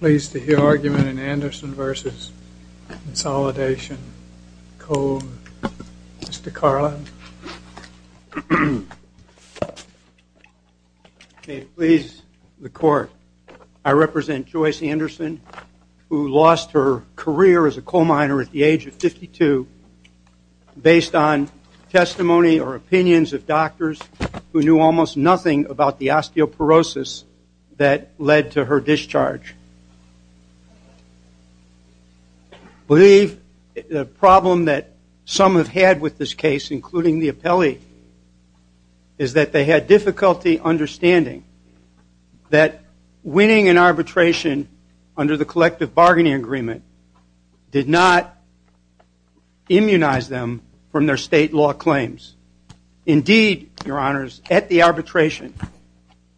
Pleased to hear argument in Anderson v. Consolidation Coal. Mr. Carlin. Please the court. I represent Joyce Anderson who lost her career as a coal miner at the age of 52 based on testimony or opinions of doctors who almost nothing about the osteoporosis that led to her discharge. I believe the problem that some have had with this case including the appellee is that they had difficulty understanding that winning an arbitration under the collective bargaining agreement did not immunize them from their state law claims. Indeed, your honors, at the arbitration,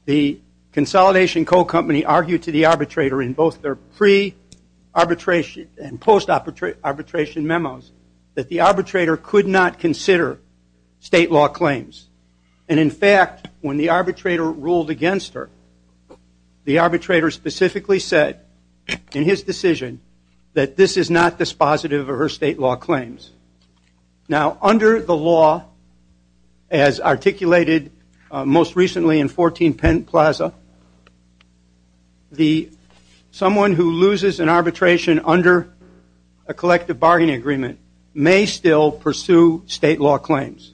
the Consolidation Coal Company argued to the arbitrator in both their pre-arbitration and post-arbitration memos that the arbitrator could not consider state law claims. And in fact, when the arbitrator ruled against her, the arbitrator specifically said in his decision that this is not dispositive of her state law as articulated most recently in 14 Penn Plaza. The someone who loses an arbitration under a collective bargaining agreement may still pursue state law claims.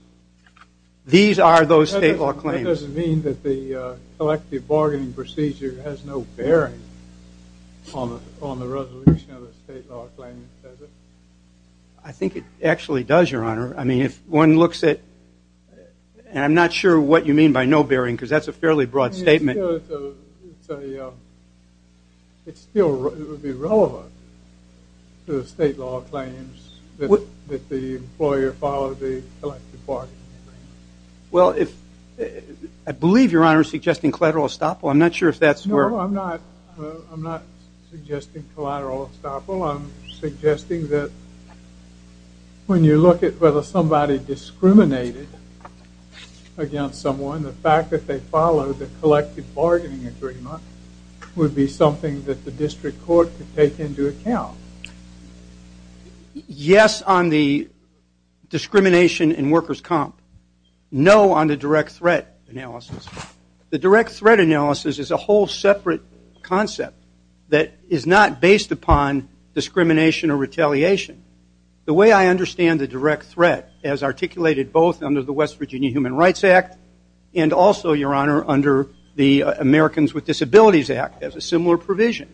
These are those state law claims. That doesn't mean that the collective bargaining procedure has no bearing on the resolution of the state law claim, does it? I think it actually does, your looks at, and I'm not sure what you mean by no bearing because that's a fairly broad statement. It would be relevant to the state law claims that the employer followed the collective bargaining agreement. Well, I believe your honor is suggesting collateral estoppel. I'm not sure if that's where... No, I'm not. I'm not suggesting collateral estoppel. I'm suggesting that when you look at whether somebody discriminated against someone, the fact that they followed the collective bargaining agreement would be something that the district court could take into account. Yes on the discrimination in workers' comp. No on the direct threat analysis. The direct threat analysis is a whole separate concept that is not based upon discrimination or retaliation. The way I understand the direct threat as articulated both under the West Virginia Human Rights Act and also, your honor, under the Americans with Disabilities Act as a similar provision.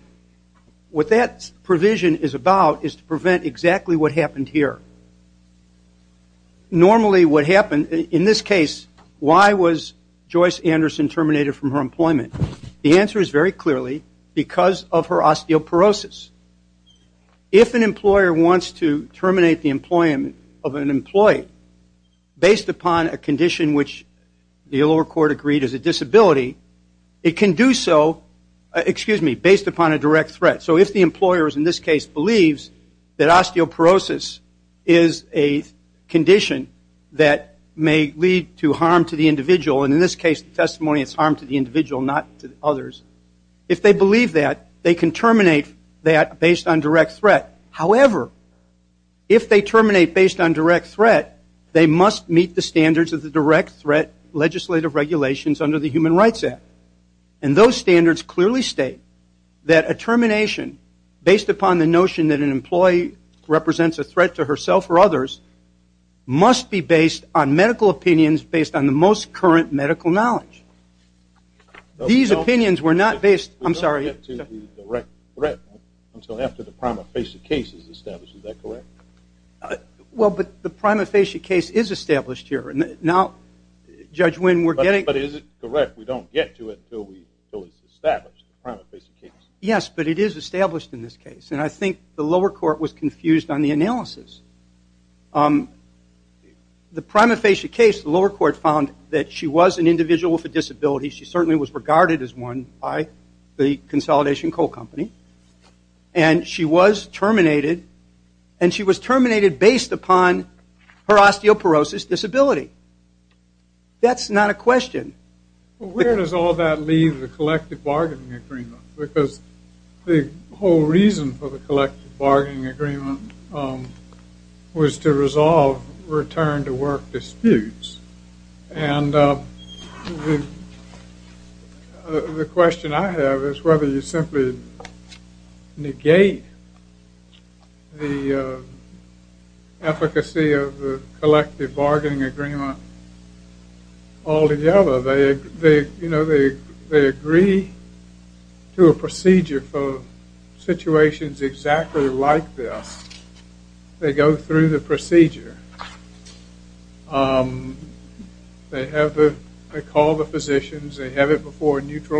What that provision is about is to prevent exactly what happened here. Normally what happened in this case, why was Joyce Anderson terminated from her employment? The answer is very clearly because of her osteoporosis. If an employer wants to terminate the employment of an employee based upon a condition which the lower court agreed is a disability, it can do so, excuse me, based upon a direct threat. So if the employer in this case believes that osteoporosis is a can terminate that based on direct threat. However, if they terminate based on direct threat, they must meet the standards of the direct threat legislative regulations under the Human Rights Act. And those standards clearly state that a termination based upon the notion that an employee represents a threat to herself or others must be based on medical opinions based on the most current medical knowledge. These opinions were not based, I'm sorry. We don't get to the direct threat until after the prima facie case is established, is that correct? Well, but the prima facie case is established here. Now, Judge Wynn, we're getting. But is it correct we don't get to it until it's established, the prima facie case? Yes, but it is established in this case. And I think the lower court was confused on the analysis. The prima facie case, the lower court found that she was an individual with a disability. She certainly was regarded as one by the Consolidation Coal Company. And she was terminated. And she was terminated based upon her osteoporosis disability. That's not a question. Well, where does all that leave the collective bargaining agreement? Because the whole reason for the collective bargaining agreement was to resolve return to work disputes. And the question I have is whether you simply negate the efficacy of the collective bargaining agreement all together. They agree to a procedure for situations exactly like this. They go through the procedure. They call the physicians. They have it before a court.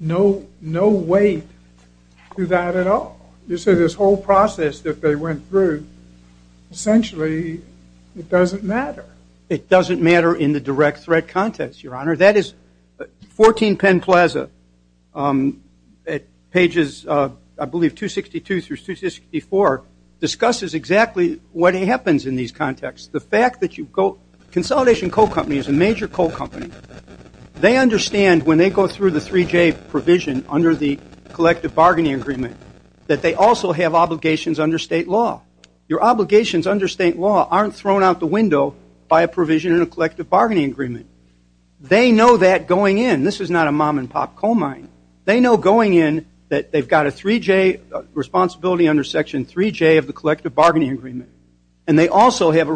No weight to that at all. You see, this whole process that they went through, essentially, it doesn't matter. It doesn't matter in the direct threat context, Your Honor. That is 14 Penn Plaza at pages, I believe, 262 through 264, discusses exactly what happens in these contexts. The fact that they understand when they go through the 3J provision under the collective bargaining agreement that they also have obligations under state law. Your obligations under state law aren't thrown out the window by a provision in a collective bargaining agreement. They know that going in, this is not a mom and pop coal mine. They know going in that they've got a 3J responsibility under section 3J of the collective bargaining agreement. And they also have a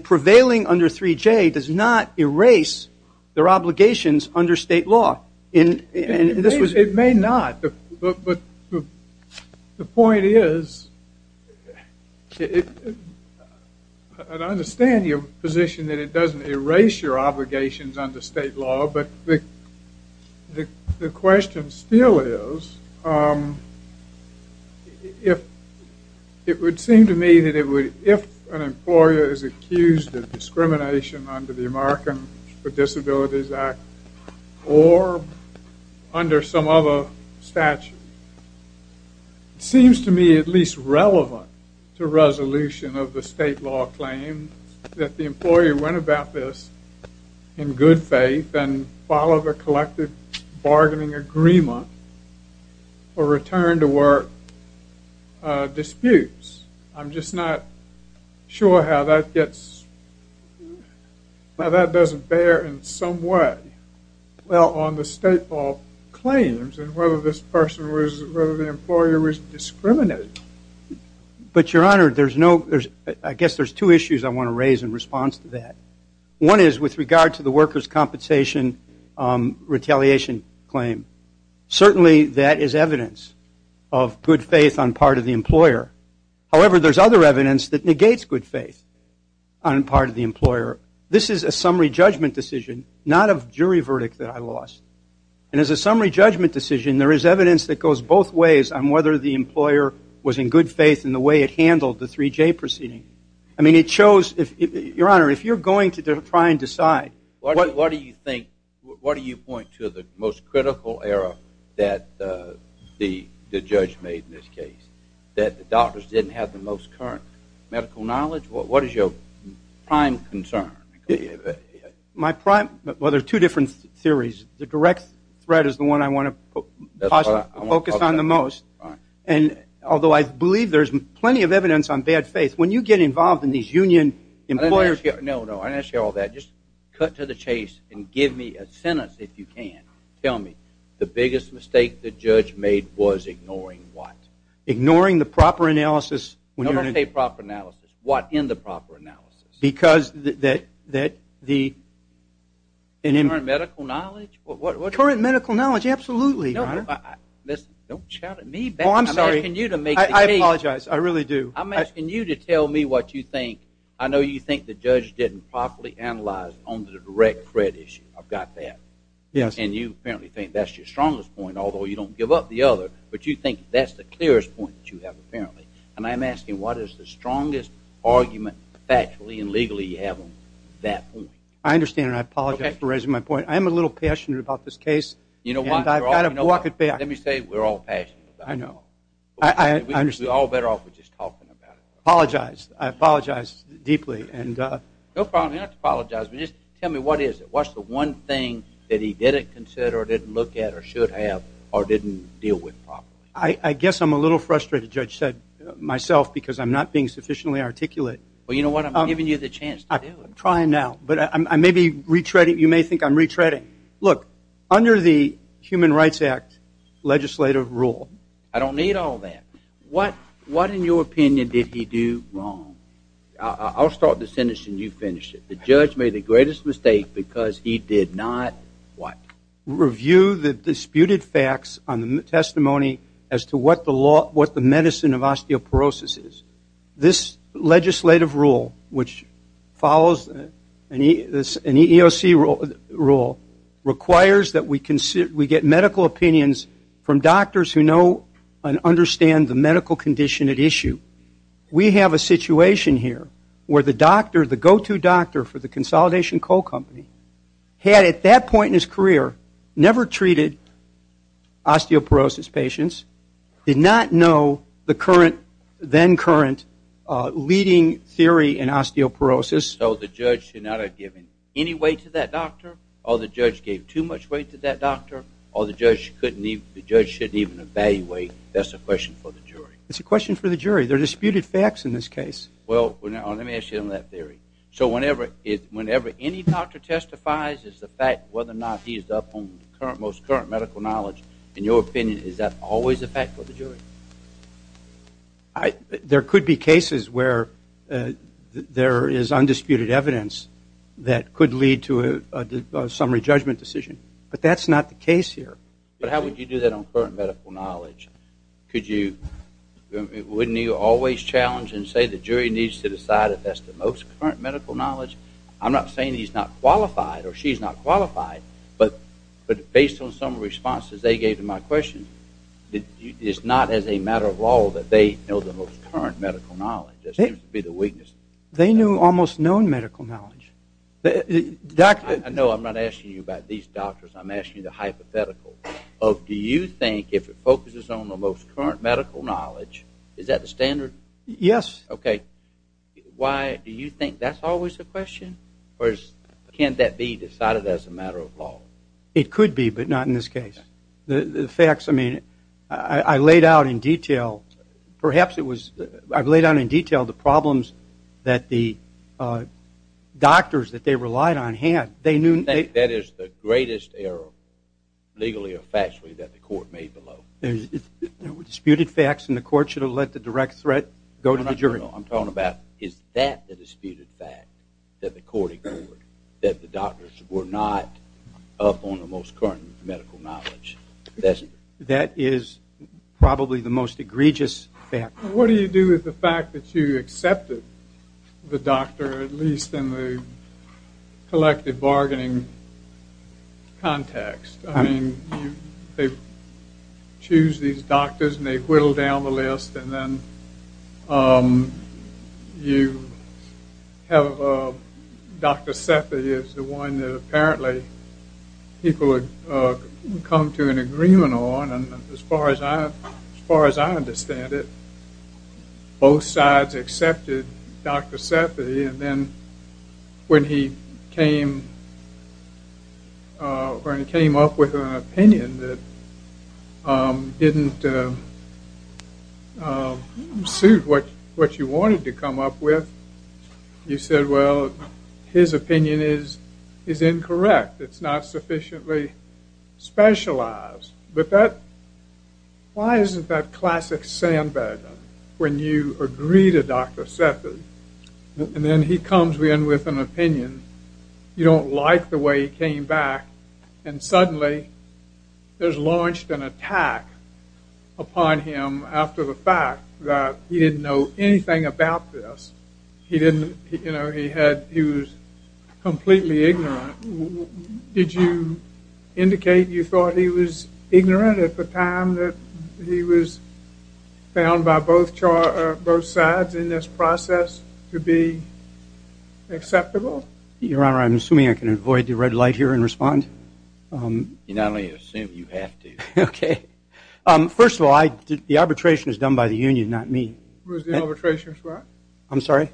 prevailing under 3J does not erase their obligations under state law. It may not. But the point is, I understand your position that it doesn't erase your obligations under state law. But the question still is, it would seem to me that if an employer is accused of discrimination under the American with Disabilities Act or under some other statute, it seems to me at least relevant to resolution of the state law claim that the employer went about this in good faith and followed the collective bargaining agreement or returned to work disputes. I'm just not sure how that gets, how that doesn't bear in some way, well, on the state law claims and whether this person was, whether the employer was discriminated. But your honor, there's no, there's, I guess there's two issues I want to raise in response to that. One is with regard to the workers' compensation retaliation claim. Certainly that is evidence of good faith on part of the employer. However, there's other evidence that negates good faith on part of the employer. This is a summary judgment decision, not a jury verdict that I lost. And as a summary judgment decision, there is evidence that goes both ways on whether the employer was in good faith in the way it handled the 3J proceeding. I mean, it shows if, your honor, if you're going to try and What do you think, what do you point to the most critical error that the judge made in this case? That the doctors didn't have the most current medical knowledge? What is your prime concern? My prime, well, there's two different theories. The direct threat is the one I want to focus on the most. And although I believe there's plenty of evidence on bad faith, when you get involved in these union employers... No, no, I didn't ask you all that. Just cut to the chase and give me a sentence if you can. Tell me, the biggest mistake the judge made was ignoring what? Ignoring the proper analysis. No, don't say proper analysis. What in the proper analysis? Because that the... Current medical knowledge? Current medical knowledge, absolutely, your honor. Listen, don't shout at me. Oh, I'm sorry. I'm asking you to make the case. I apologize. I really do. I'm asking you to tell me what you think. I know you think the judge didn't properly analyze on the direct threat issue. I've got that. Yes. And you apparently think that's your strongest point, although you don't give up the other. But you think that's the clearest point that you have apparently. And I'm asking, what is the strongest argument factually and legally you have on that point? I understand and I apologize for raising my point. I am a little passionate about this case. You know what? And I've got to walk it back. Let me say, we're all passionate about it. I know. I understand. We're all better off with just talking about it. I apologize. I apologize deeply and... No problem. You don't have to apologize. But just tell me, what is it? What's the one thing that he didn't consider or didn't look at or should have or didn't deal with properly? I guess I'm a little frustrated, Judge said, myself, because I'm not being sufficiently articulate. Well, you know what? I'm giving you the chance to do it. I'm trying now, but I may be retreading. You may think I'm retreading. Look, under the Human Rights Act legislative rule... I don't need all that. What, in your opinion, did he do wrong? I'll start the sentence and you finish it. The judge made the greatest mistake because he did not... What? Review the disputed facts on the testimony as to what the medicine of osteoporosis is. This legislative rule, which follows an EEOC rule, requires that we get medical opinions from doctors who know and understand the medical condition at issue. We have a situation here where the doctor, the go-to doctor for the Consolidation Coal Company, had, at that point in his career, never treated osteoporosis patients, did not know the then-current leading theory in osteoporosis. So the judge should not have given any weight to that doctor, or the judge gave too much weight to that doctor, or the judge shouldn't even evaluate. That's a question for the jury. It's a question for the jury. There are disputed facts in this case. Well, let me ask you on that theory. So whenever any doctor testifies, it's a fact whether or not he's up on the most current medical knowledge. In your opinion, is that always a fact for the jury? There could be cases where there is undisputed evidence that could lead to a summary judgment decision. But that's not the case here. But how would you do that on current medical knowledge? Wouldn't you always challenge and say the jury needs to decide if that's the most current medical knowledge? I'm not saying he's not qualified, or she's not qualified, but based on some of the responses they gave to my question, it's not as a matter of law that they know the most current medical knowledge. That seems to be the weakness. They knew almost known medical knowledge. I know I'm not asking you about these doctors. I'm asking you the hypothetical. Do you think if it focuses on the most current medical knowledge, is that the standard? Yes. Okay. Why do you think that's always a question? Or can that be decided as a matter of law? It could be, but not in this case. The facts, I mean, I laid out in detail. Perhaps it was I laid out in detail the problems that the doctors that they relied on had. That is the greatest error, legally or factually, that the court made below. There were disputed facts, and the court should have let the direct threat go to the jury. No, no, no. I'm talking about is that the disputed fact that the court ignored, that the doctors were not up on the most current medical knowledge. That is probably the most egregious fact. What do you do with the fact that you accepted the doctor, at least in the collective bargaining context? I mean, they choose these doctors, and they whittle down the list, and then you have Dr. Seffi is the one that apparently people would come to an agreement on. And as far as I understand it, both sides accepted Dr. Seffi. And then when he came up with an opinion that didn't suit what you wanted to come up with, you said, well, his opinion is incorrect. It's not sufficiently specialized. But why isn't that classic sandbag when you agree to Dr. Seffi? And then he comes in with an opinion you don't like the way he came back, and suddenly there's launched an attack upon him after the fact that he didn't know anything about this. He didn't, you know, he was completely ignorant. Did you indicate you thought he was ignorant at the time that he was found by both sides in this process to be acceptable? Your Honor, I'm assuming I can avoid the red light here and respond. You not only assume, you have to. Okay. First of all, the arbitration was done by the union, not me. The arbitration was what? I'm sorry?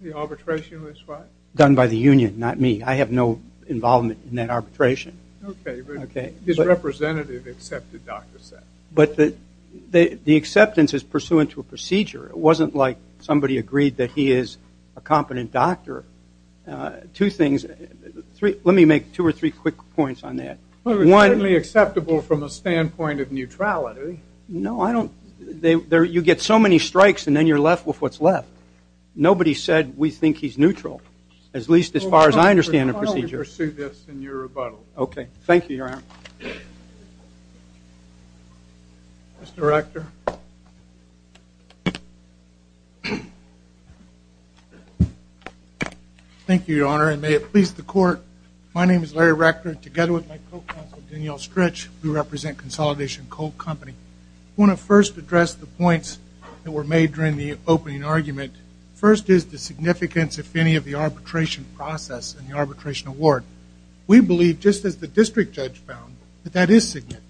The arbitration was what? Done by the union, not me. I have no involvement in that arbitration. Okay. His representative accepted Dr. Seffi. But the acceptance is pursuant to a procedure. It wasn't like somebody agreed that he is a competent doctor. Two things. Let me make two or three quick points on that. One. It was certainly acceptable from a standpoint of neutrality. No, I don't. You get so many strikes and then you're left with what's left. Nobody said we think he's neutral, at least as far as I understand the procedure. I'll pursue this in your rebuttal. Thank you, Your Honor. Mr. Rector. Thank you, Your Honor, and may it please the Court. My name is Larry Rector, and together with my co-counsel, Danielle Stritch, we represent Consolidation Coal Company. I want to first address the points that were made during the opening argument. First is the significance, if any, of the arbitration process and the arbitration award. We believe, just as the district judge found, that that is significant.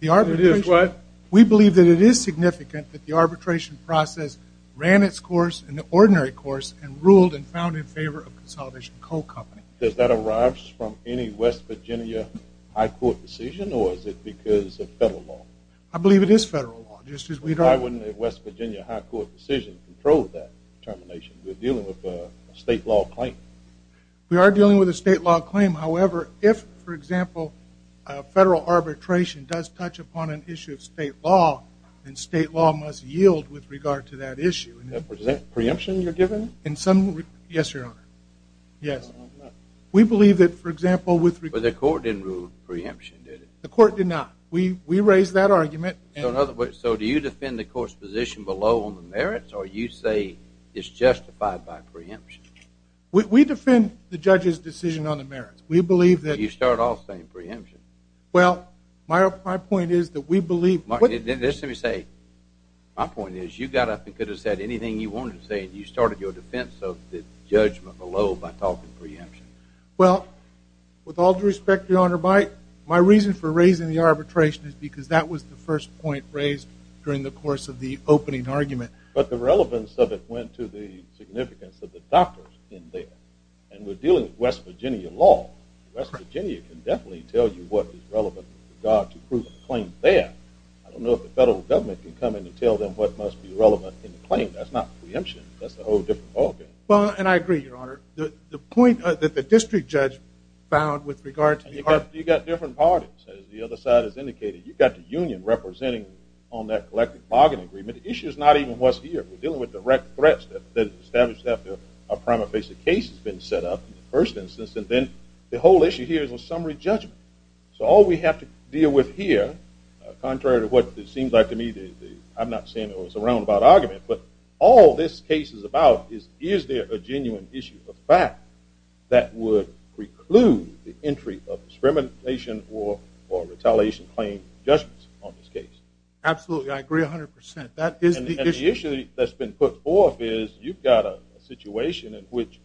It is, right? We believe that it is significant that the arbitration process ran its course in the ordinary course and ruled and found in favor of Consolidation Coal Company. Does that arise from any West Virginia high court decision, or is it because of federal law? I believe it is federal law. Why wouldn't a West Virginia high court decision control that determination? We're dealing with a state law claim. We are dealing with a state law claim. However, if, for example, federal arbitration does touch upon an issue of state law, then state law must yield with regard to that issue. Is that preemption you're giving? Yes, Your Honor. Yes. We believe that, for example, with regard to- But the court didn't rule preemption, did it? The court did not. We raised that argument. So do you defend the court's position below on the merits, or you say it's justified by preemption? We defend the judge's decision on the merits. We believe that- You start off saying preemption. Well, my point is that we believe- Let me say, my point is you got up and could have said anything you wanted to say and you started your defense of the judgment below by talking preemption. Well, with all due respect, Your Honor, my reason for raising the arbitration is because that was the first point raised during the course of the opening argument. But the relevance of it went to the significance of the doctors in there. And we're dealing with West Virginia law. West Virginia can definitely tell you what is relevant with regard to proving a claim there. I don't know if the federal government can come in and tell them what must be relevant in the claim. That's not preemption. That's a whole different ballgame. Well, and I agree, Your Honor. The point that the district judge found with regard to- You've got different parties. As the other side has indicated, you've got the union representing on that collective bargain agreement. The issue is not even what's here. We're dealing with direct threats that are established after a prima facie case has been set up in the first instance. And then the whole issue here is a summary judgment. So all we have to deal with here, contrary to what it seems like to me, I'm not saying it was a roundabout argument, but all this case is about is is there a genuine issue, a fact that would preclude the entry of discrimination or retaliation claim judgments on this case? Absolutely. I agree 100%. That is the issue. And the issue that's been put forth is you've got a situation in which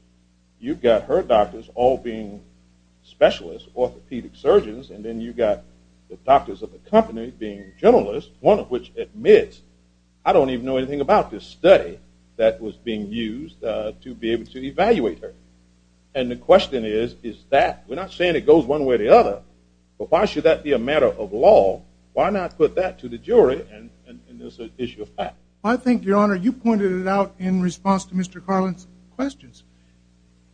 you've got her doctors all being specialists, orthopedic surgeons, and then you've got the doctors of the company being generalists, one of which admits, I don't even know anything about this study that was being used to be able to evaluate her. And the question is, is that-we're not saying it goes one way or the other, but why should that be a matter of law? Why not put that to the jury in this issue of fact? I think, Your Honor, you pointed it out in response to Mr. Carlin's questions.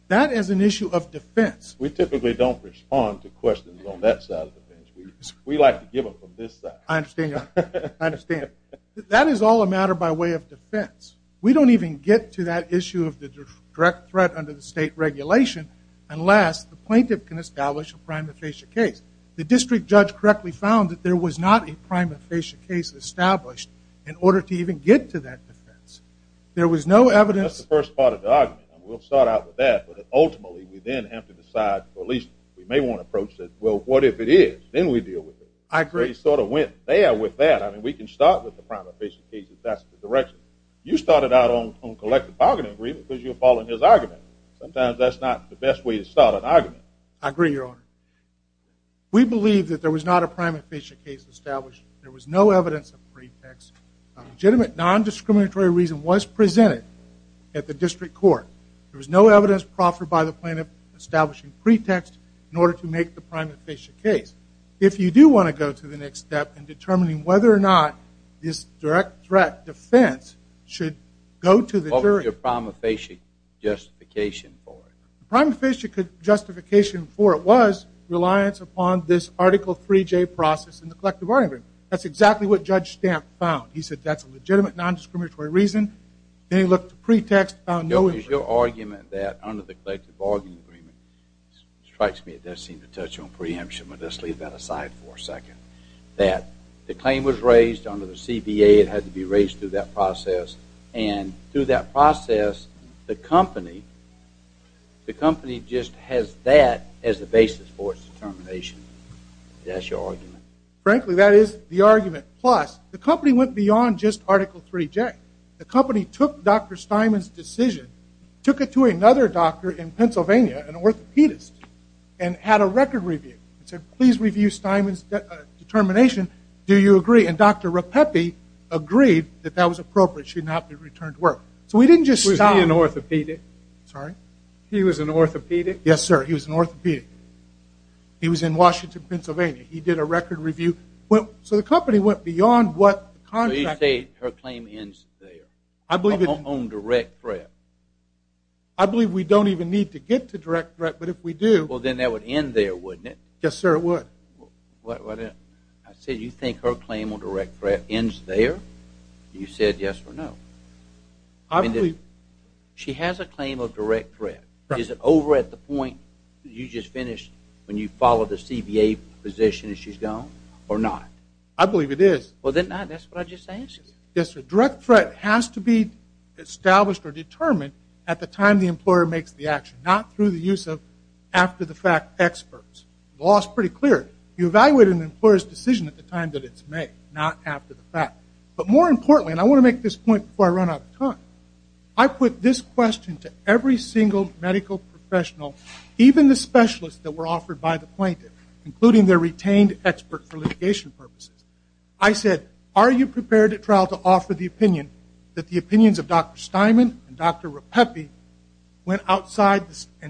That is an issue of defense. We typically don't respond to questions on that side of the bench. We like to give them from this side. I understand, Your Honor. I understand. That is all a matter by way of defense. We don't even get to that issue of the direct threat under the state regulation unless the plaintiff can establish a prima facie case. The district judge correctly found that there was not a prima facie case established in order to even get to that defense. There was no evidence- That's the first part of the argument, and we'll start out with that. But ultimately, we then have to decide, or at least we may want to approach it, well, what if it is? Then we deal with it. I agree. We sort of went there with that. I mean, we can start with the prima facie case if that's the direction. You started out on collective bargaining agreement because you were following his argument. Sometimes that's not the best way to start an argument. I agree, Your Honor. We believe that there was not a prima facie case established. There was no evidence of pretext. A legitimate non-discriminatory reason was presented at the district court. There was no evidence proffered by the plaintiff establishing pretext in order to make the prima facie case. If you do want to go to the next step in determining whether or not this direct threat defense should go to the jury- What was your prima facie justification for it? The prima facie justification for it was reliance upon this Article 3J process in the collective bargaining agreement. That's exactly what Judge Stamp found. He said that's a legitimate non-discriminatory reason. Then he looked to pretext. No, it's your argument that under the collective bargaining agreement, it strikes me it does seem to touch on preemption, but let's leave that aside for a second, that the claim was raised under the CBA. It had to be raised through that process. And through that process, the company just has that as the basis for its determination. That's your argument. Frankly, that is the argument. Plus, the company went beyond just Article 3J. The company took Dr. Steinman's decision, took it to another doctor in Pennsylvania, an orthopedist, and had a record review. It said, please review Steinman's determination. Do you agree? And Dr. Rapeppe agreed that that was appropriate. It should not be returned to work. So we didn't just stop. Was he an orthopedic? Sorry? He was an orthopedic? Yes, sir. He was an orthopedic. He was in Washington, Pennsylvania. He did a record review. So the company went beyond what the contract- So you say her claim ends there, on direct threat. I believe we don't even need to get to direct threat, but if we do- Well, then that would end there, wouldn't it? Yes, sir, it would. I said you think her claim on direct threat ends there? You said yes or no. I believe- She has a claim of direct threat. Is it over at the point you just finished when you followed the CBA position and she's gone or not? I believe it is. Well, then that's what I just asked you. Yes, sir. Direct threat has to be established or determined at the time the employer makes the action, not through the use of after-the-fact experts. The law is pretty clear. You evaluate an employer's decision at the time that it's made, not after the fact. But more importantly, and I want to make this point before I run out of time, I put this question to every single medical professional, even the specialists that were offered by the plaintiff, including their retained expert for litigation purposes. I said, are you prepared at trial to offer the opinion that the opinions of Dr. Steinman and Dr. Rapeppe and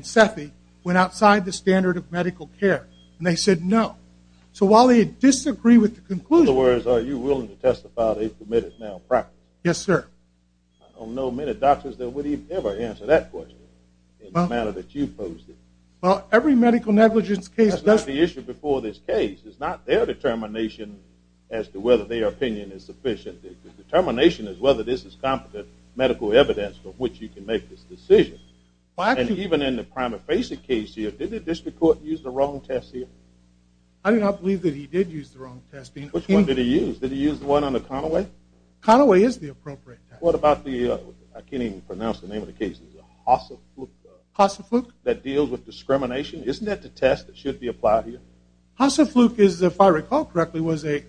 Sethi went outside the standard of medical care? And they said no. So while they disagree with the conclusion- In other words, are you willing to testify that they've committed malpractice? Yes, sir. I don't know many doctors that would ever answer that question in the manner that you posed it. Well, every medical negligence case- That's not the issue before this case. It's not their determination as to whether their opinion is sufficient. The determination is whether this is competent medical evidence from which you can make this decision. And even in the prima facie case here, did the district court use the wrong test here? I do not believe that he did use the wrong test. Which one did he use? Did he use the one on the Conaway? Conaway is the appropriate test. What about the- I can't even pronounce the name of the case. Is it Hassefluch? Hassefluch. That deals with discrimination? Isn't that the test that should be applied here? Hassefluch is, if I recall correctly, was a-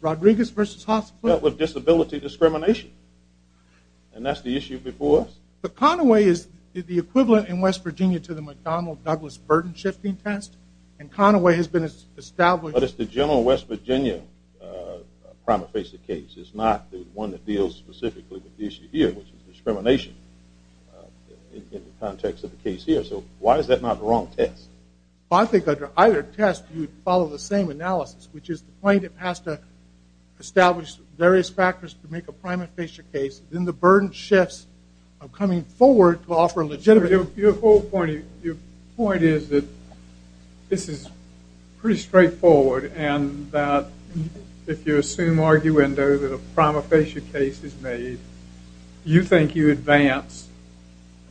Rodriguez versus Hassefluch? It dealt with disability discrimination. And that's the issue before us. But Conaway is the equivalent in West Virginia to the McDonnell-Douglas burden-shifting test. And Conaway has been established- But it's the general West Virginia prima facie case. It's not the one that deals specifically with the issue here, which is discrimination in the context of the case here. So why is that not the wrong test? I think under either test you would follow the same analysis, which is the plaintiff has to establish various factors to make a prima facie case. Then the burden shifts of coming forward to offer a legitimate- Your whole point is that this is pretty straightforward. And that if you assume arguendo that a prima facie case is made, you think you advance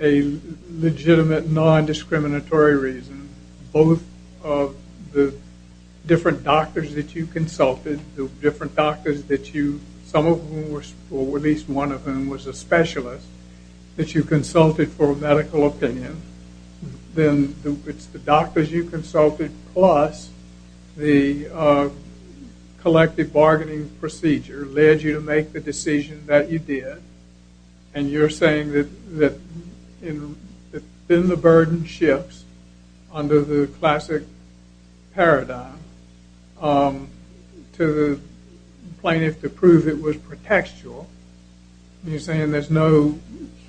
a legitimate non-discriminatory reason, both of the different doctors that you consulted, the different doctors that you- some of whom were- or at least one of whom was a specialist- that you consulted for a medical opinion. Then it's the doctors you consulted plus the collective bargaining procedure led you to make the decision that you did. And you're saying that in the burden shifts under the classic paradigm to the plaintiff to prove it was pretextual, you're saying there's no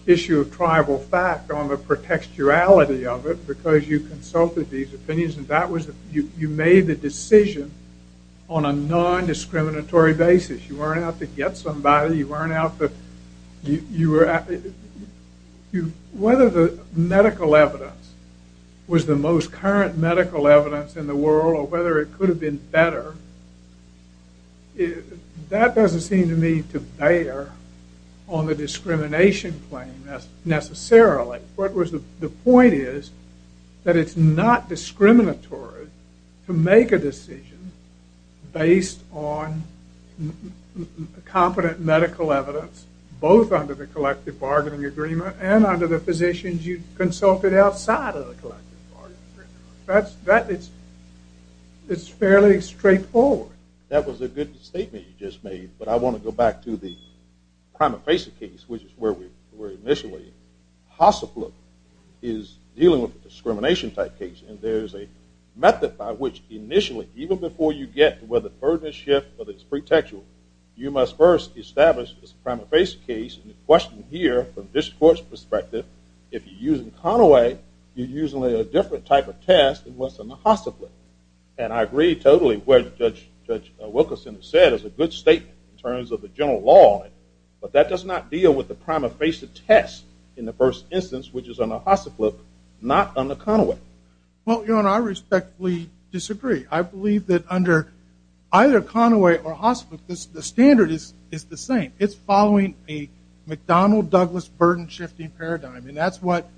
issue of tribal fact on the pretextuality of it because you consulted these opinions and that was- you made the decision on a non-discriminatory basis. You weren't out to get somebody. You weren't out to- Whether the medical evidence was the most current medical evidence in the world or whether it could have been better, that doesn't seem to me to bear on the discrimination claim necessarily. The point is that it's not discriminatory to make a decision based on competent medical evidence, both under the collective bargaining agreement and under the physicians you consulted outside of the collective bargaining agreement. That's- it's fairly straightforward. That was a good statement you just made, but I want to go back to the prima facie case, which is where we were initially. HOSAFLU is dealing with a discrimination type case and there's a method by which initially, even before you get to whether the burden is shift or it's pretextual, you must first establish the prima facie case and the question here from this court's perspective, if you're using Conaway, you're using a different type of test than what's in the HOSAFLU. And I agree totally with what Judge Wilkerson said. It's a good statement in terms of the general law, but that does not deal with the prima facie test in the first instance, which is on the HOSAFLU, not on the Conaway. Well, Your Honor, I respectfully disagree. I believe that under either Conaway or HOSAFLU, the standard is the same. It's following a McDonnell-Douglas burden-shifting paradigm, and that's what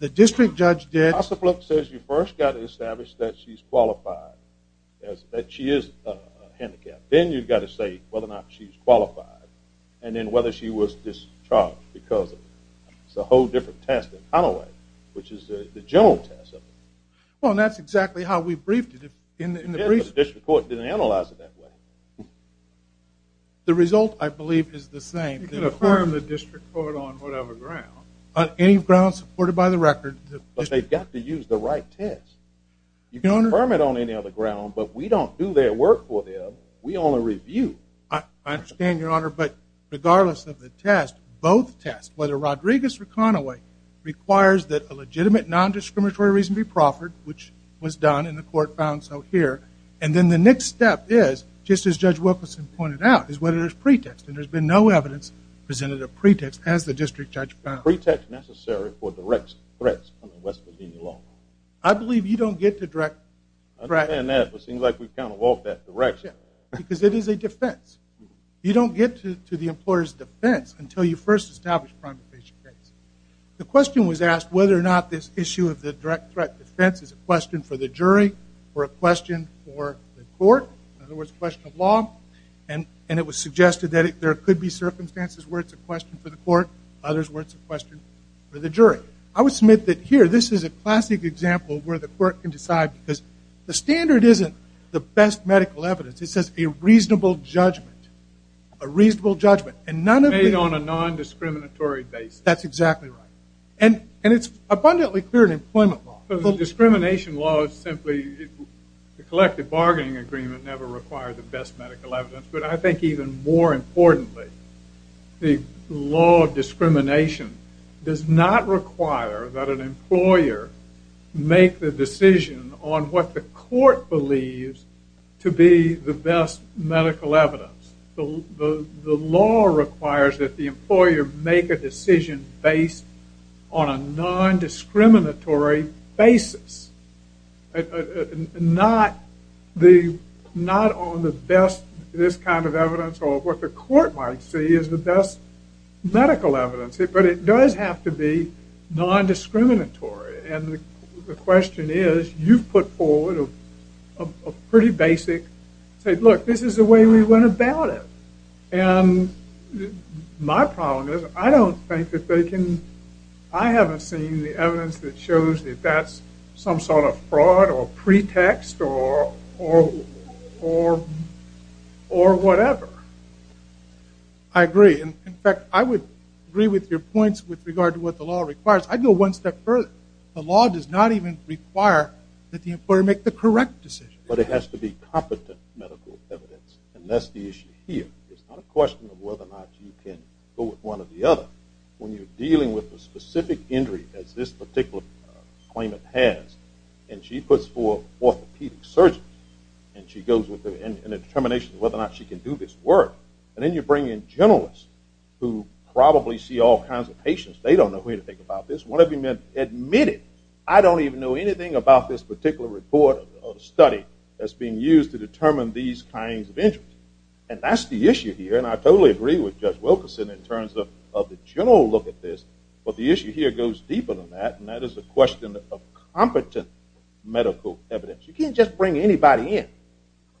the district judge did. HOSAFLU says you first got to establish that she's qualified, that she is handicapped. Then you've got to say whether or not she's qualified and then whether she was discharged because of it. It's a whole different test than Conaway, which is the general test. Well, and that's exactly how we briefed it in the brief. Yes, but the district court didn't analyze it that way. The result, I believe, is the same. You can affirm the district court on whatever ground. On any ground supported by the record. But they've got to use the right test. You can affirm it on any other ground, but we don't do their work for them. We only review. I understand, Your Honor, but regardless of the test, both tests, whether Rodriguez or Conaway, requires that a legitimate non-discriminatory reason be proffered, which was done, and the court found so here. And then the next step is, just as Judge Wilkerson pointed out, is whether there's pretext. And there's been no evidence presented of pretext, as the district judge found. Pretext necessary for direct threats under West Virginia law. I believe you don't get to direct threats. I understand that, but it seems like we've kind of walked that direction. Because it is a defense. You don't get to the employer's defense until you first establish a crime of patient case. The question was asked whether or not this issue of the direct threat defense is a question for the jury or a question for the court. In other words, a question of law. And it was suggested that there could be circumstances where it's a question for the court, others where it's a question for the jury. I would submit that here, this is a classic example where the court can decide. Because the standard isn't the best medical evidence. It says a reasonable judgment. A reasonable judgment. Made on a non-discriminatory basis. That's exactly right. And it's abundantly clear in employment law. Discrimination law is simply, the collective bargaining agreement never required the best medical evidence. But I think even more importantly, the law of discrimination does not require that an employer make the decision on what the court believes to be the best medical evidence. The law requires that the employer make a decision based on a non-discriminatory basis. Not on the best, this kind of evidence, or what the court might see as the best medical evidence. But it does have to be non-discriminatory. And the question is, you've put forward a pretty basic, say, look, this is the way we went about it. And my problem is, I don't think that they can, I haven't seen the evidence that shows that that's some sort of fraud or pretext or whatever. I agree. In fact, I would agree with your points with regard to what the law requires. I'd go one step further. The law does not even require that the employer make the correct decision. But it has to be competent medical evidence. And that's the issue here. It's not a question of whether or not you can go with one or the other. When you're dealing with a specific injury, as this particular claimant has, and she puts forth orthopedic surgeons, and she goes with a determination of whether or not she can do this work, and then you bring in generalists who probably see all kinds of patients. They don't know anything about this. One of the men admitted, I don't even know anything about this particular report or study that's being used to determine these kinds of injuries. And that's the issue here, and I totally agree with Judge Wilkerson in terms of the general look at this. But the issue here goes deeper than that, and that is the question of competent medical evidence. You can't just bring anybody in.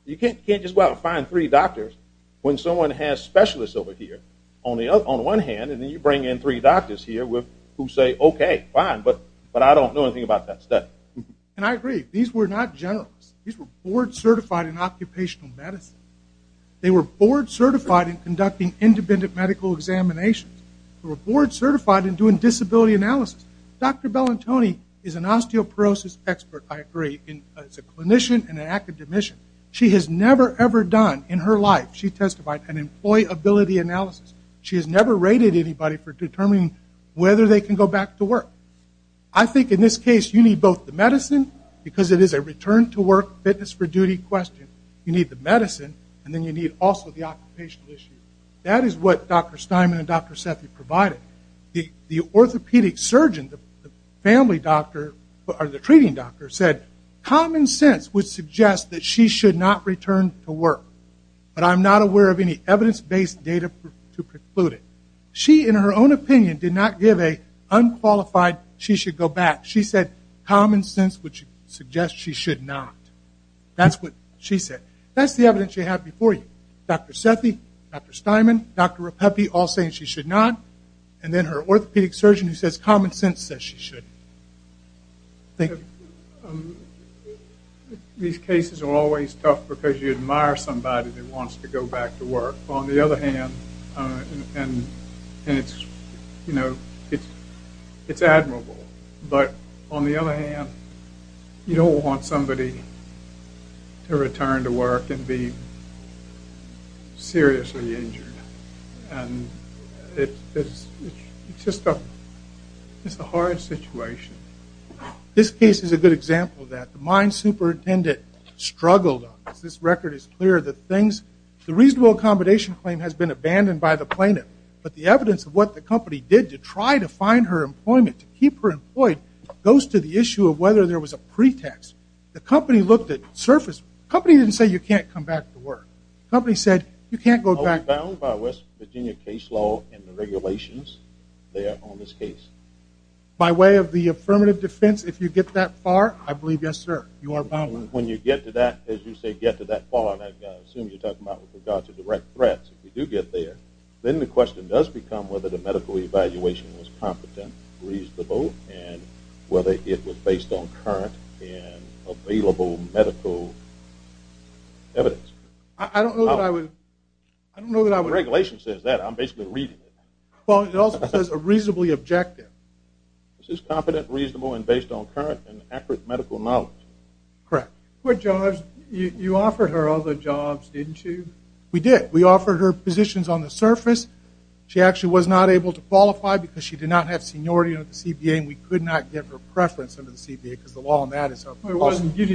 You can't just go out and find three doctors when someone has specialists over here on one hand, and then you bring in three doctors here who say, okay, fine, but I don't know anything about that study. And I agree. These were not generalists. These were board-certified in occupational medicine. They were board-certified in conducting independent medical examinations. They were board-certified in doing disability analysis. Dr. Bellantoni is an osteoporosis expert, I agree. She's a clinician and an academician. She has never, ever done in her life, she testified, an employability analysis. She has never rated anybody for determining whether they can go back to work. I think in this case you need both the medicine, because it is a return-to-work, fitness-for-duty question. You need the medicine, and then you need also the occupational issue. That is what Dr. Steinman and Dr. Sethi provided. The orthopedic surgeon, the family doctor, or the treating doctor, said, common sense would suggest that she should not return to work. But I'm not aware of any evidence-based data to preclude it. She, in her own opinion, did not give an unqualified, she should go back. She said, common sense would suggest she should not. That's what she said. That's the evidence you have before you. Dr. Sethi, Dr. Steinman, Dr. Repeppy, all saying she should not. And then her orthopedic surgeon who says common sense says she should. Thank you. These cases are always tough because you admire somebody that wants to go back to work. On the other hand, and it's admirable, but on the other hand, you don't want somebody to return to work and be seriously injured. And it's just a hard situation. This case is a good example of that. The mine superintendent struggled on this. This record is clear. The reasonable accommodation claim has been abandoned by the plaintiff, but the evidence of what the company did to try to find her employment, to keep her employed, goes to the issue of whether there was a pretext. The company looked at surface. The company didn't say you can't come back to work. The company said you can't go back. Are we bound by West Virginia case law and the regulations there on this case? By way of the affirmative defense, if you get that far, I believe, yes, sir, you are bound. When you get to that, as you say, get to that far, and I assume you're talking about with regard to direct threats, if you do get there, then the question does become whether the medical evaluation was competent, reasonable, and whether it was based on current and available medical evidence. I don't know that I would. I don't know that I would. The regulation says that. I'm basically reading it. Well, it also says reasonably objective. This is competent, reasonable, and based on current and accurate medical knowledge. Correct. But, Judge, you offered her other jobs, didn't you? We did. We offered her positions on the surface. She actually was not able to qualify because she did not have seniority under the CBA, and we could not give her preference under the CBA because the law on that is something else. You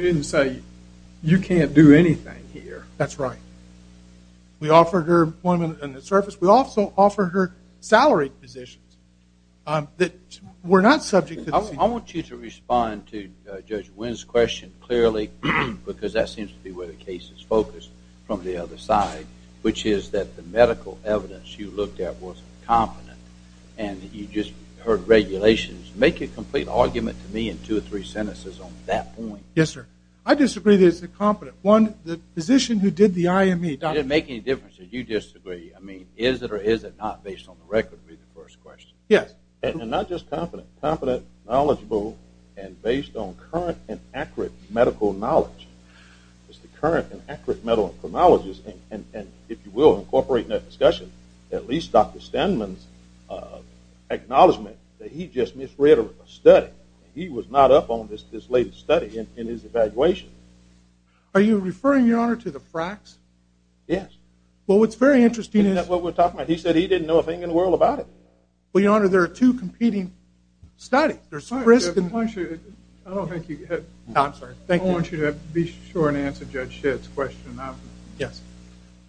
didn't say you can't do anything here. That's right. We offered her employment on the surface. We also offered her salaried positions that were not subject to the CBA. I want you to respond to Judge Wynn's question clearly because that seems to be where the case is focused from the other side, which is that the medical evidence you looked at was competent, and you just heard regulations. Make a complete argument to me in two or three sentences on that point. Yes, sir. I disagree that it's incompetent. One, the physician who did the IME, Dr. Wynn. It doesn't make any difference if you disagree. I mean, is it or is it not based on the record would be the first question. Yes. And not just competent. Competent, knowledgeable, and based on current and accurate medical knowledge. It's the current and accurate medical knowledge, and if you will incorporate that discussion, at least Dr. Stenman's acknowledgment that he just misread a study. He was not up on this latest study in his evaluation. Are you referring, Your Honor, to the fracks? Yes. Well, what's very interesting is— Isn't that what we're talking about? He said he didn't know a thing in the world about it. Well, Your Honor, there are two competing studies. I don't think you— No, I'm sorry. I want you to be sure and answer Judge Schitt's question. Yes.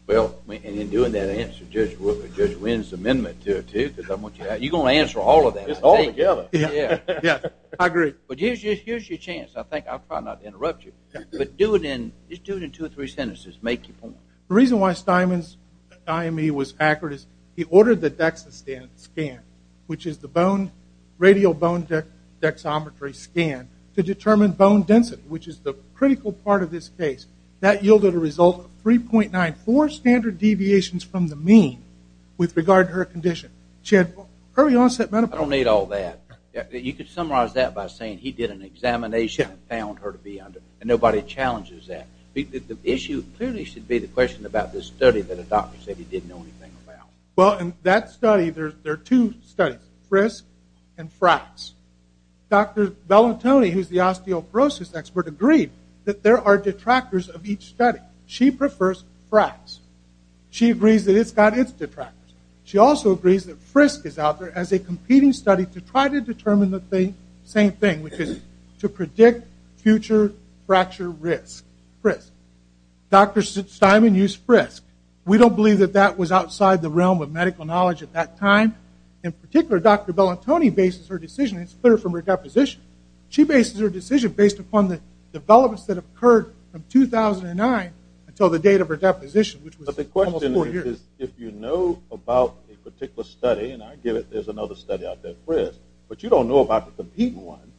Well, and in doing that answer, Judge Wynn's amendment to it, too, because I want you to—you're going to answer all of that, all together. Yes, I agree. But here's your chance. I'll try not to interrupt you, but just do it in two or three sentences. Make your point. The reason why Stenman's IME was accurate is he ordered the DEXA scan, which is the radial bone dexometry scan, to determine bone density, which is the critical part of this case. That yielded a result of 3.94 standard deviations from the mean with regard to her condition. She had early-onset menopause. I don't need all that. You could summarize that by saying he did an examination and found her to be under— and nobody challenges that. The issue clearly should be the question about this study that a doctor said he didn't know anything about. Well, in that study, there are two studies, FRISC and FRAX. Dr. Bellantoni, who's the osteoporosis expert, agreed that there are detractors of each study. She prefers FRAX. She agrees that it's got its detractors. She also agrees that FRISC is out there as a competing study to try to determine the same thing, which is to predict future fracture risk, FRISC. Dr. Stenman used FRISC. We don't believe that that was outside the realm of medical knowledge at that time. In particular, Dr. Bellantoni bases her decision, and it's clear from her deposition. She bases her decision based upon the developments that occurred from 2009 until the date of her deposition, which was almost four years. But the question is if you know about a particular study, and I give it there's another study out there, FRISC, but you don't know about the competing one,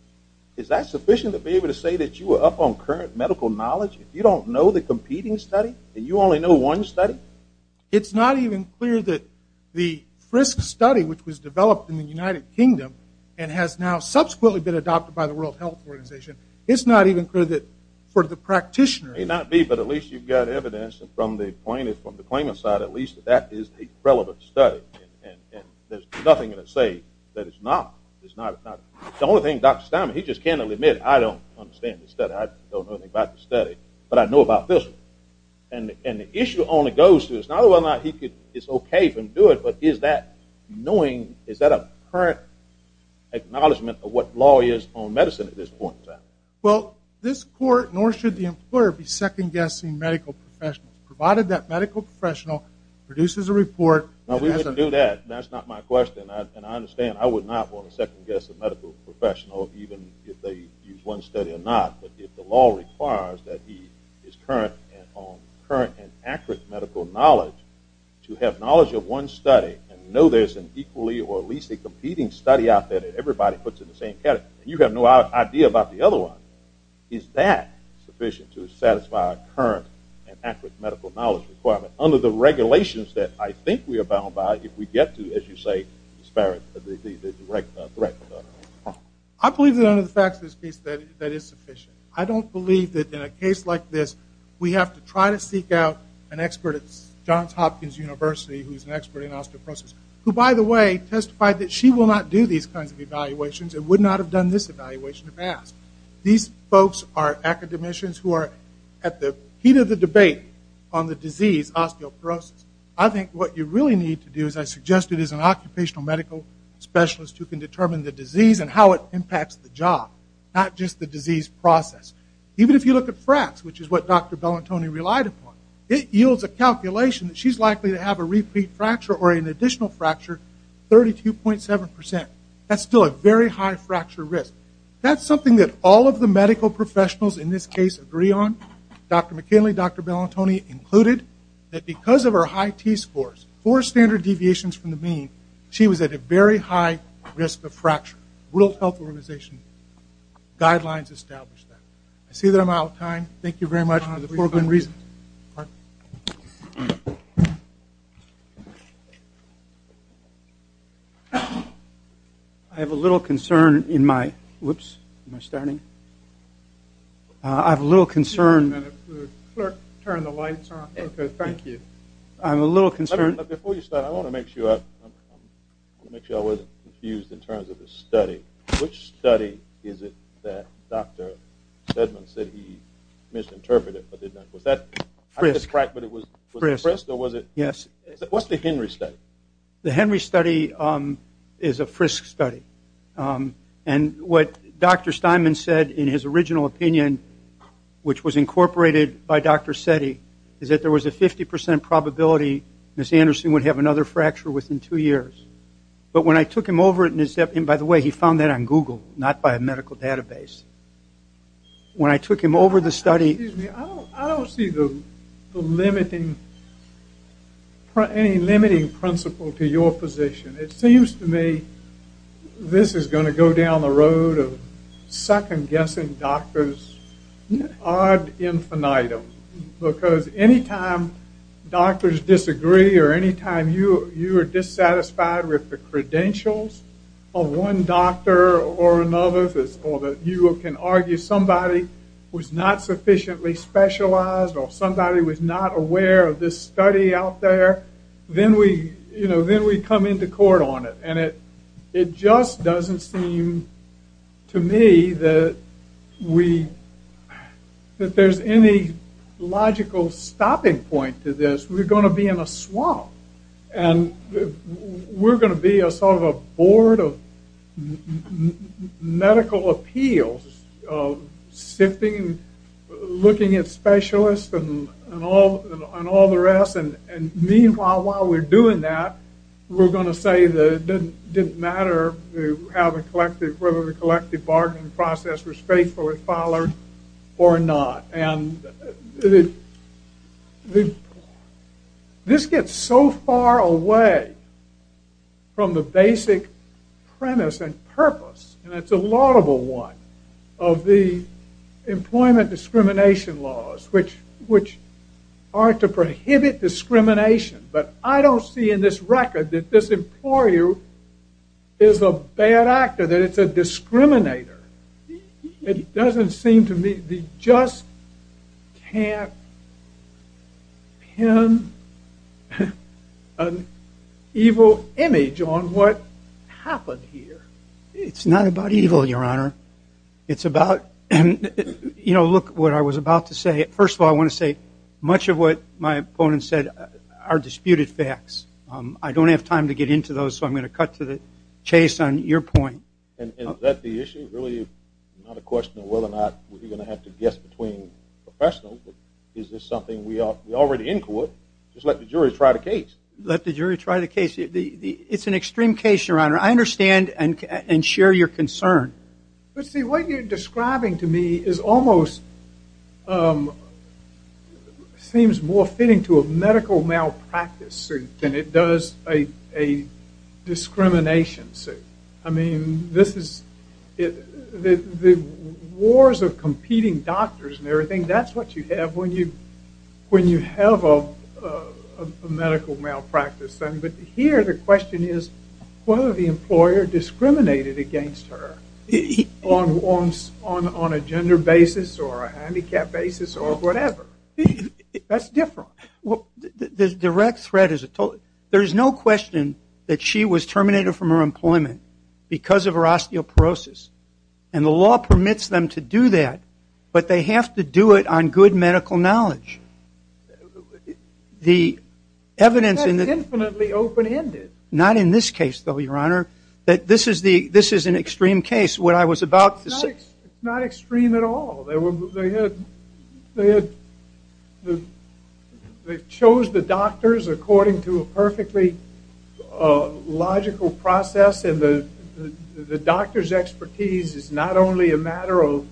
is that sufficient to be able to say that you were up on current medical knowledge? If you don't know the competing study and you only know one study? It's not even clear that the FRISC study, which was developed in the United Kingdom and has now subsequently been adopted by the World Health Organization, it's not even clear that for the practitioner. It may not be, but at least you've got evidence from the claimant side at least that that is a relevant study. And there's nothing to say that it's not. The only thing, Dr. Stenman, he just candidly admitted, I don't understand this study. I don't know anything about the study, but I know about this one. And the issue only goes to this. Now whether or not it's okay for him to do it, but is that knowing, is that a current acknowledgment of what law is on medicine at this point in time? Well, this court, nor should the employer, be second-guessing medical professionals. Provided that medical professional produces a report. No, we wouldn't do that. That's not my question. And I understand I would not want to second-guess a medical professional even if they use one study or not. But if the law requires that he is current and accurate medical knowledge, to have knowledge of one study and know there's an equally or at least a competing study out there that everybody puts in the same category, and you have no idea about the other one, is that sufficient to satisfy a current and accurate medical knowledge requirement? Under the regulations that I think we are bound by, if we get to, as you say, the direct threat. I believe that under the facts of this case that is sufficient. I don't believe that in a case like this we have to try to seek out an expert at Johns Hopkins University who is an expert in osteoporosis, who, by the way, testified that she will not do these kinds of evaluations and would not have done this evaluation if asked. These folks are academicians who are at the heat of the debate on the disease osteoporosis. I think what you really need to do, as I suggested, is an occupational medical specialist who can determine the disease and how it impacts the job, not just the disease process. Even if you look at fracts, which is what Dr. Bellantoni relied upon, it yields a calculation that she's likely to have a repeat fracture or an additional fracture, 32.7%. That's still a very high fracture risk. That's something that all of the medical professionals in this case agree on. Dr. McKinley, Dr. Bellantoni included that because of her high T-scores, four standard deviations from the mean, she was at a very high risk of fracture. World Health Organization guidelines establish that. I see that I'm out of time. Thank you very much for the four good reasons. Mark? I have a little concern in my – whoops, am I starting? I have a little concern – Just a minute. The clerk turned the lights on. Okay, thank you. I have a little concern – Before you start, I want to make sure I wasn't confused in terms of the study. Which study is it that Dr. Sedman said he misinterpreted? Was that – Frisk. Was it Frisk or was it – Yes. What's the Henry study? The Henry study is a Frisk study. And what Dr. Steinman said in his original opinion, which was incorporated by Dr. Seddy, is that there was a 50% probability Ms. Anderson would have another fracture within two years. But when I took him over – and by the way, he found that on Google, not by a medical database. When I took him over the study – Excuse me. I don't see the limiting – any limiting principle to your position. It seems to me this is going to go down the road of second-guessing doctors ad infinitum. Because any time doctors disagree or any time you are dissatisfied with the credentials of one doctor or another, or that you can argue somebody was not sufficiently specialized or somebody was not aware of this study out there, then we come into court on it. And it just doesn't seem to me that we – that there's any logical stopping point to this. We're going to be in a swamp. And we're going to be a sort of a board of medical appeals, sitting and looking at specialists and all the rest. And meanwhile, while we're doing that, we're going to say that it didn't matter whether the collective bargaining process was faithfully followed or not. And this gets so far away from the basic premise and purpose – and it's a laudable one – of the employment discrimination laws, which are to prohibit discrimination. But I don't see in this record that this employer is a bad actor, that it's a discriminator. It doesn't seem to me we just can't pin an evil image on what happened here. It's not about evil, Your Honor. It's about – you know, look, what I was about to say. First of all, I want to say much of what my opponents said are disputed facts. I don't have time to get into those, so I'm going to cut to the chase on your point. Is that the issue? Really not a question of whether or not we're going to have to guess between professionals. Is this something we already in court? Just let the jury try the case. Let the jury try the case. It's an extreme case, Your Honor. I understand and share your concern. But, see, what you're describing to me is almost – seems more fitting to a medical malpractice suit than it does a discrimination suit. I mean, this is – the wars of competing doctors and everything, that's what you have when you have a medical malpractice. But here the question is whether the employer discriminated against her on a gender basis or a handicap basis or whatever. That's different. The direct threat is – there's no question that she was terminated from her employment because of her osteoporosis. And the law permits them to do that, but they have to do it on good medical knowledge. The evidence in the – That's infinitely open-ended. Not in this case, though, Your Honor. This is an extreme case. What I was about to say – It's not extreme at all. They had – they chose the doctors according to a perfectly logical process. And the doctor's expertise is not only a matter of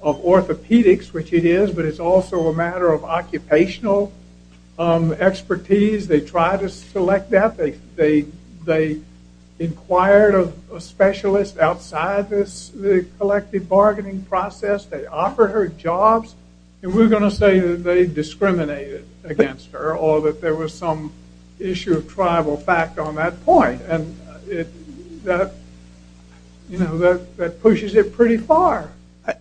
orthopedics, which it is, but it's also a matter of occupational expertise. They tried to select that. They inquired a specialist outside this collective bargaining process. They offered her jobs. And we're going to say that they discriminated against her or that there was some issue of tribal fact on that point. And that pushes it pretty far.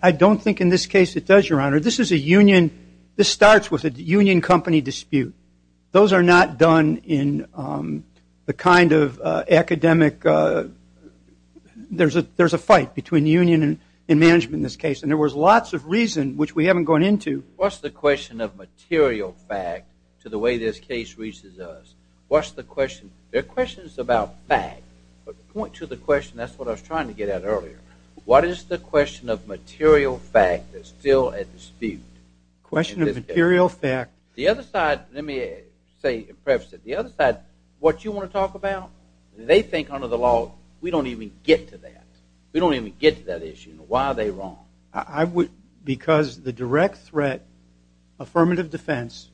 I don't think in this case it does, Your Honor. This is a union – this starts with a union company dispute. Those are not done in the kind of academic – there's a fight between union and management in this case. And there was lots of reason, which we haven't gone into. What's the question of material fact to the way this case reaches us? What's the question? There are questions about fact. But point to the question. That's what I was trying to get at earlier. What is the question of material fact that's still at dispute? The question of material fact. The other side – let me say and preface it. The other side, what you want to talk about, they think under the law we don't even get to that. We don't even get to that issue. Why are they wrong? Because the direct threat affirmative defense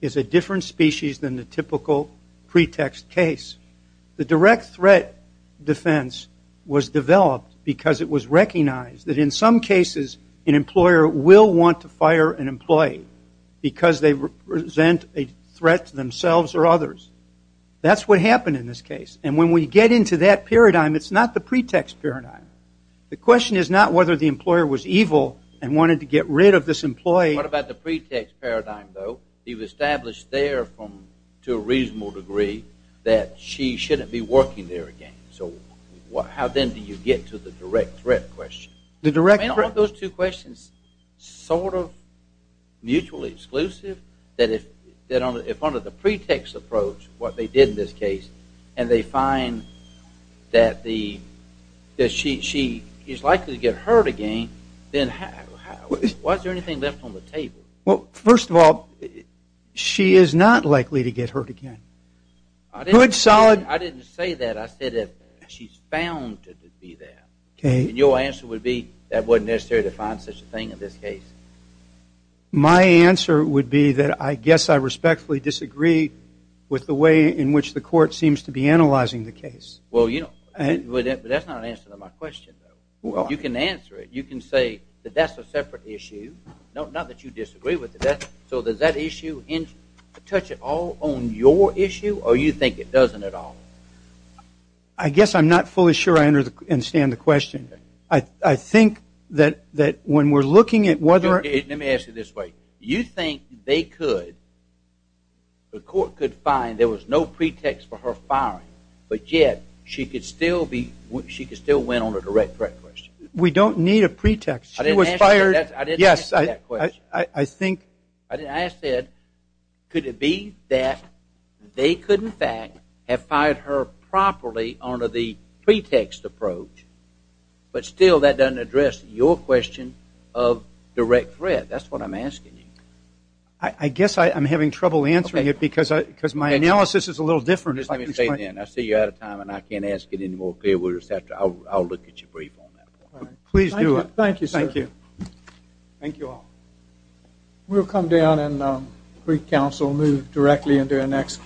is a different species than the typical pretext case. The direct threat defense was developed because it was recognized that in some cases an employer will want to fire an employee because they present a threat to themselves or others. That's what happened in this case. And when we get into that paradigm, it's not the pretext paradigm. The question is not whether the employer was evil and wanted to get rid of this employee. What about the pretext paradigm, though? It was established there to a reasonable degree that she shouldn't be working there again. So how then do you get to the direct threat question? The direct threat question. Aren't those two questions sort of mutually exclusive? If under the pretext approach, what they did in this case, and they find that she is likely to get hurt again, then why is there anything left on the table? Well, first of all, she is not likely to get hurt again. I didn't say that. I said she's found to be that. And your answer would be that it wasn't necessary to find such a thing in this case? My answer would be that I guess I respectfully disagree with the way in which the court seems to be analyzing the case. That's not an answer to my question, though. You can answer it. You can say that that's a separate issue, not that you disagree with it. So does that issue touch at all on your issue, or you think it doesn't at all? I guess I'm not fully sure I understand the question. I think that when we're looking at whether or not- Let me ask you this way. You think they could, the court could find there was no pretext for her firing, but yet she could still win on a direct threat question? We don't need a pretext. She was fired- I didn't ask you that question. Yes, I think- Could it be that they could, in fact, have fired her properly under the pretext approach, but still that doesn't address your question of direct threat? That's what I'm asking you. I guess I'm having trouble answering it because my analysis is a little different. Let me say it again. I see you're out of time, and I can't ask it any more clearly. I'll look at your brief on that. Please do. Thank you, sir. Thank you. Thank you all. We'll come down and pre-counsel move directly into our next case.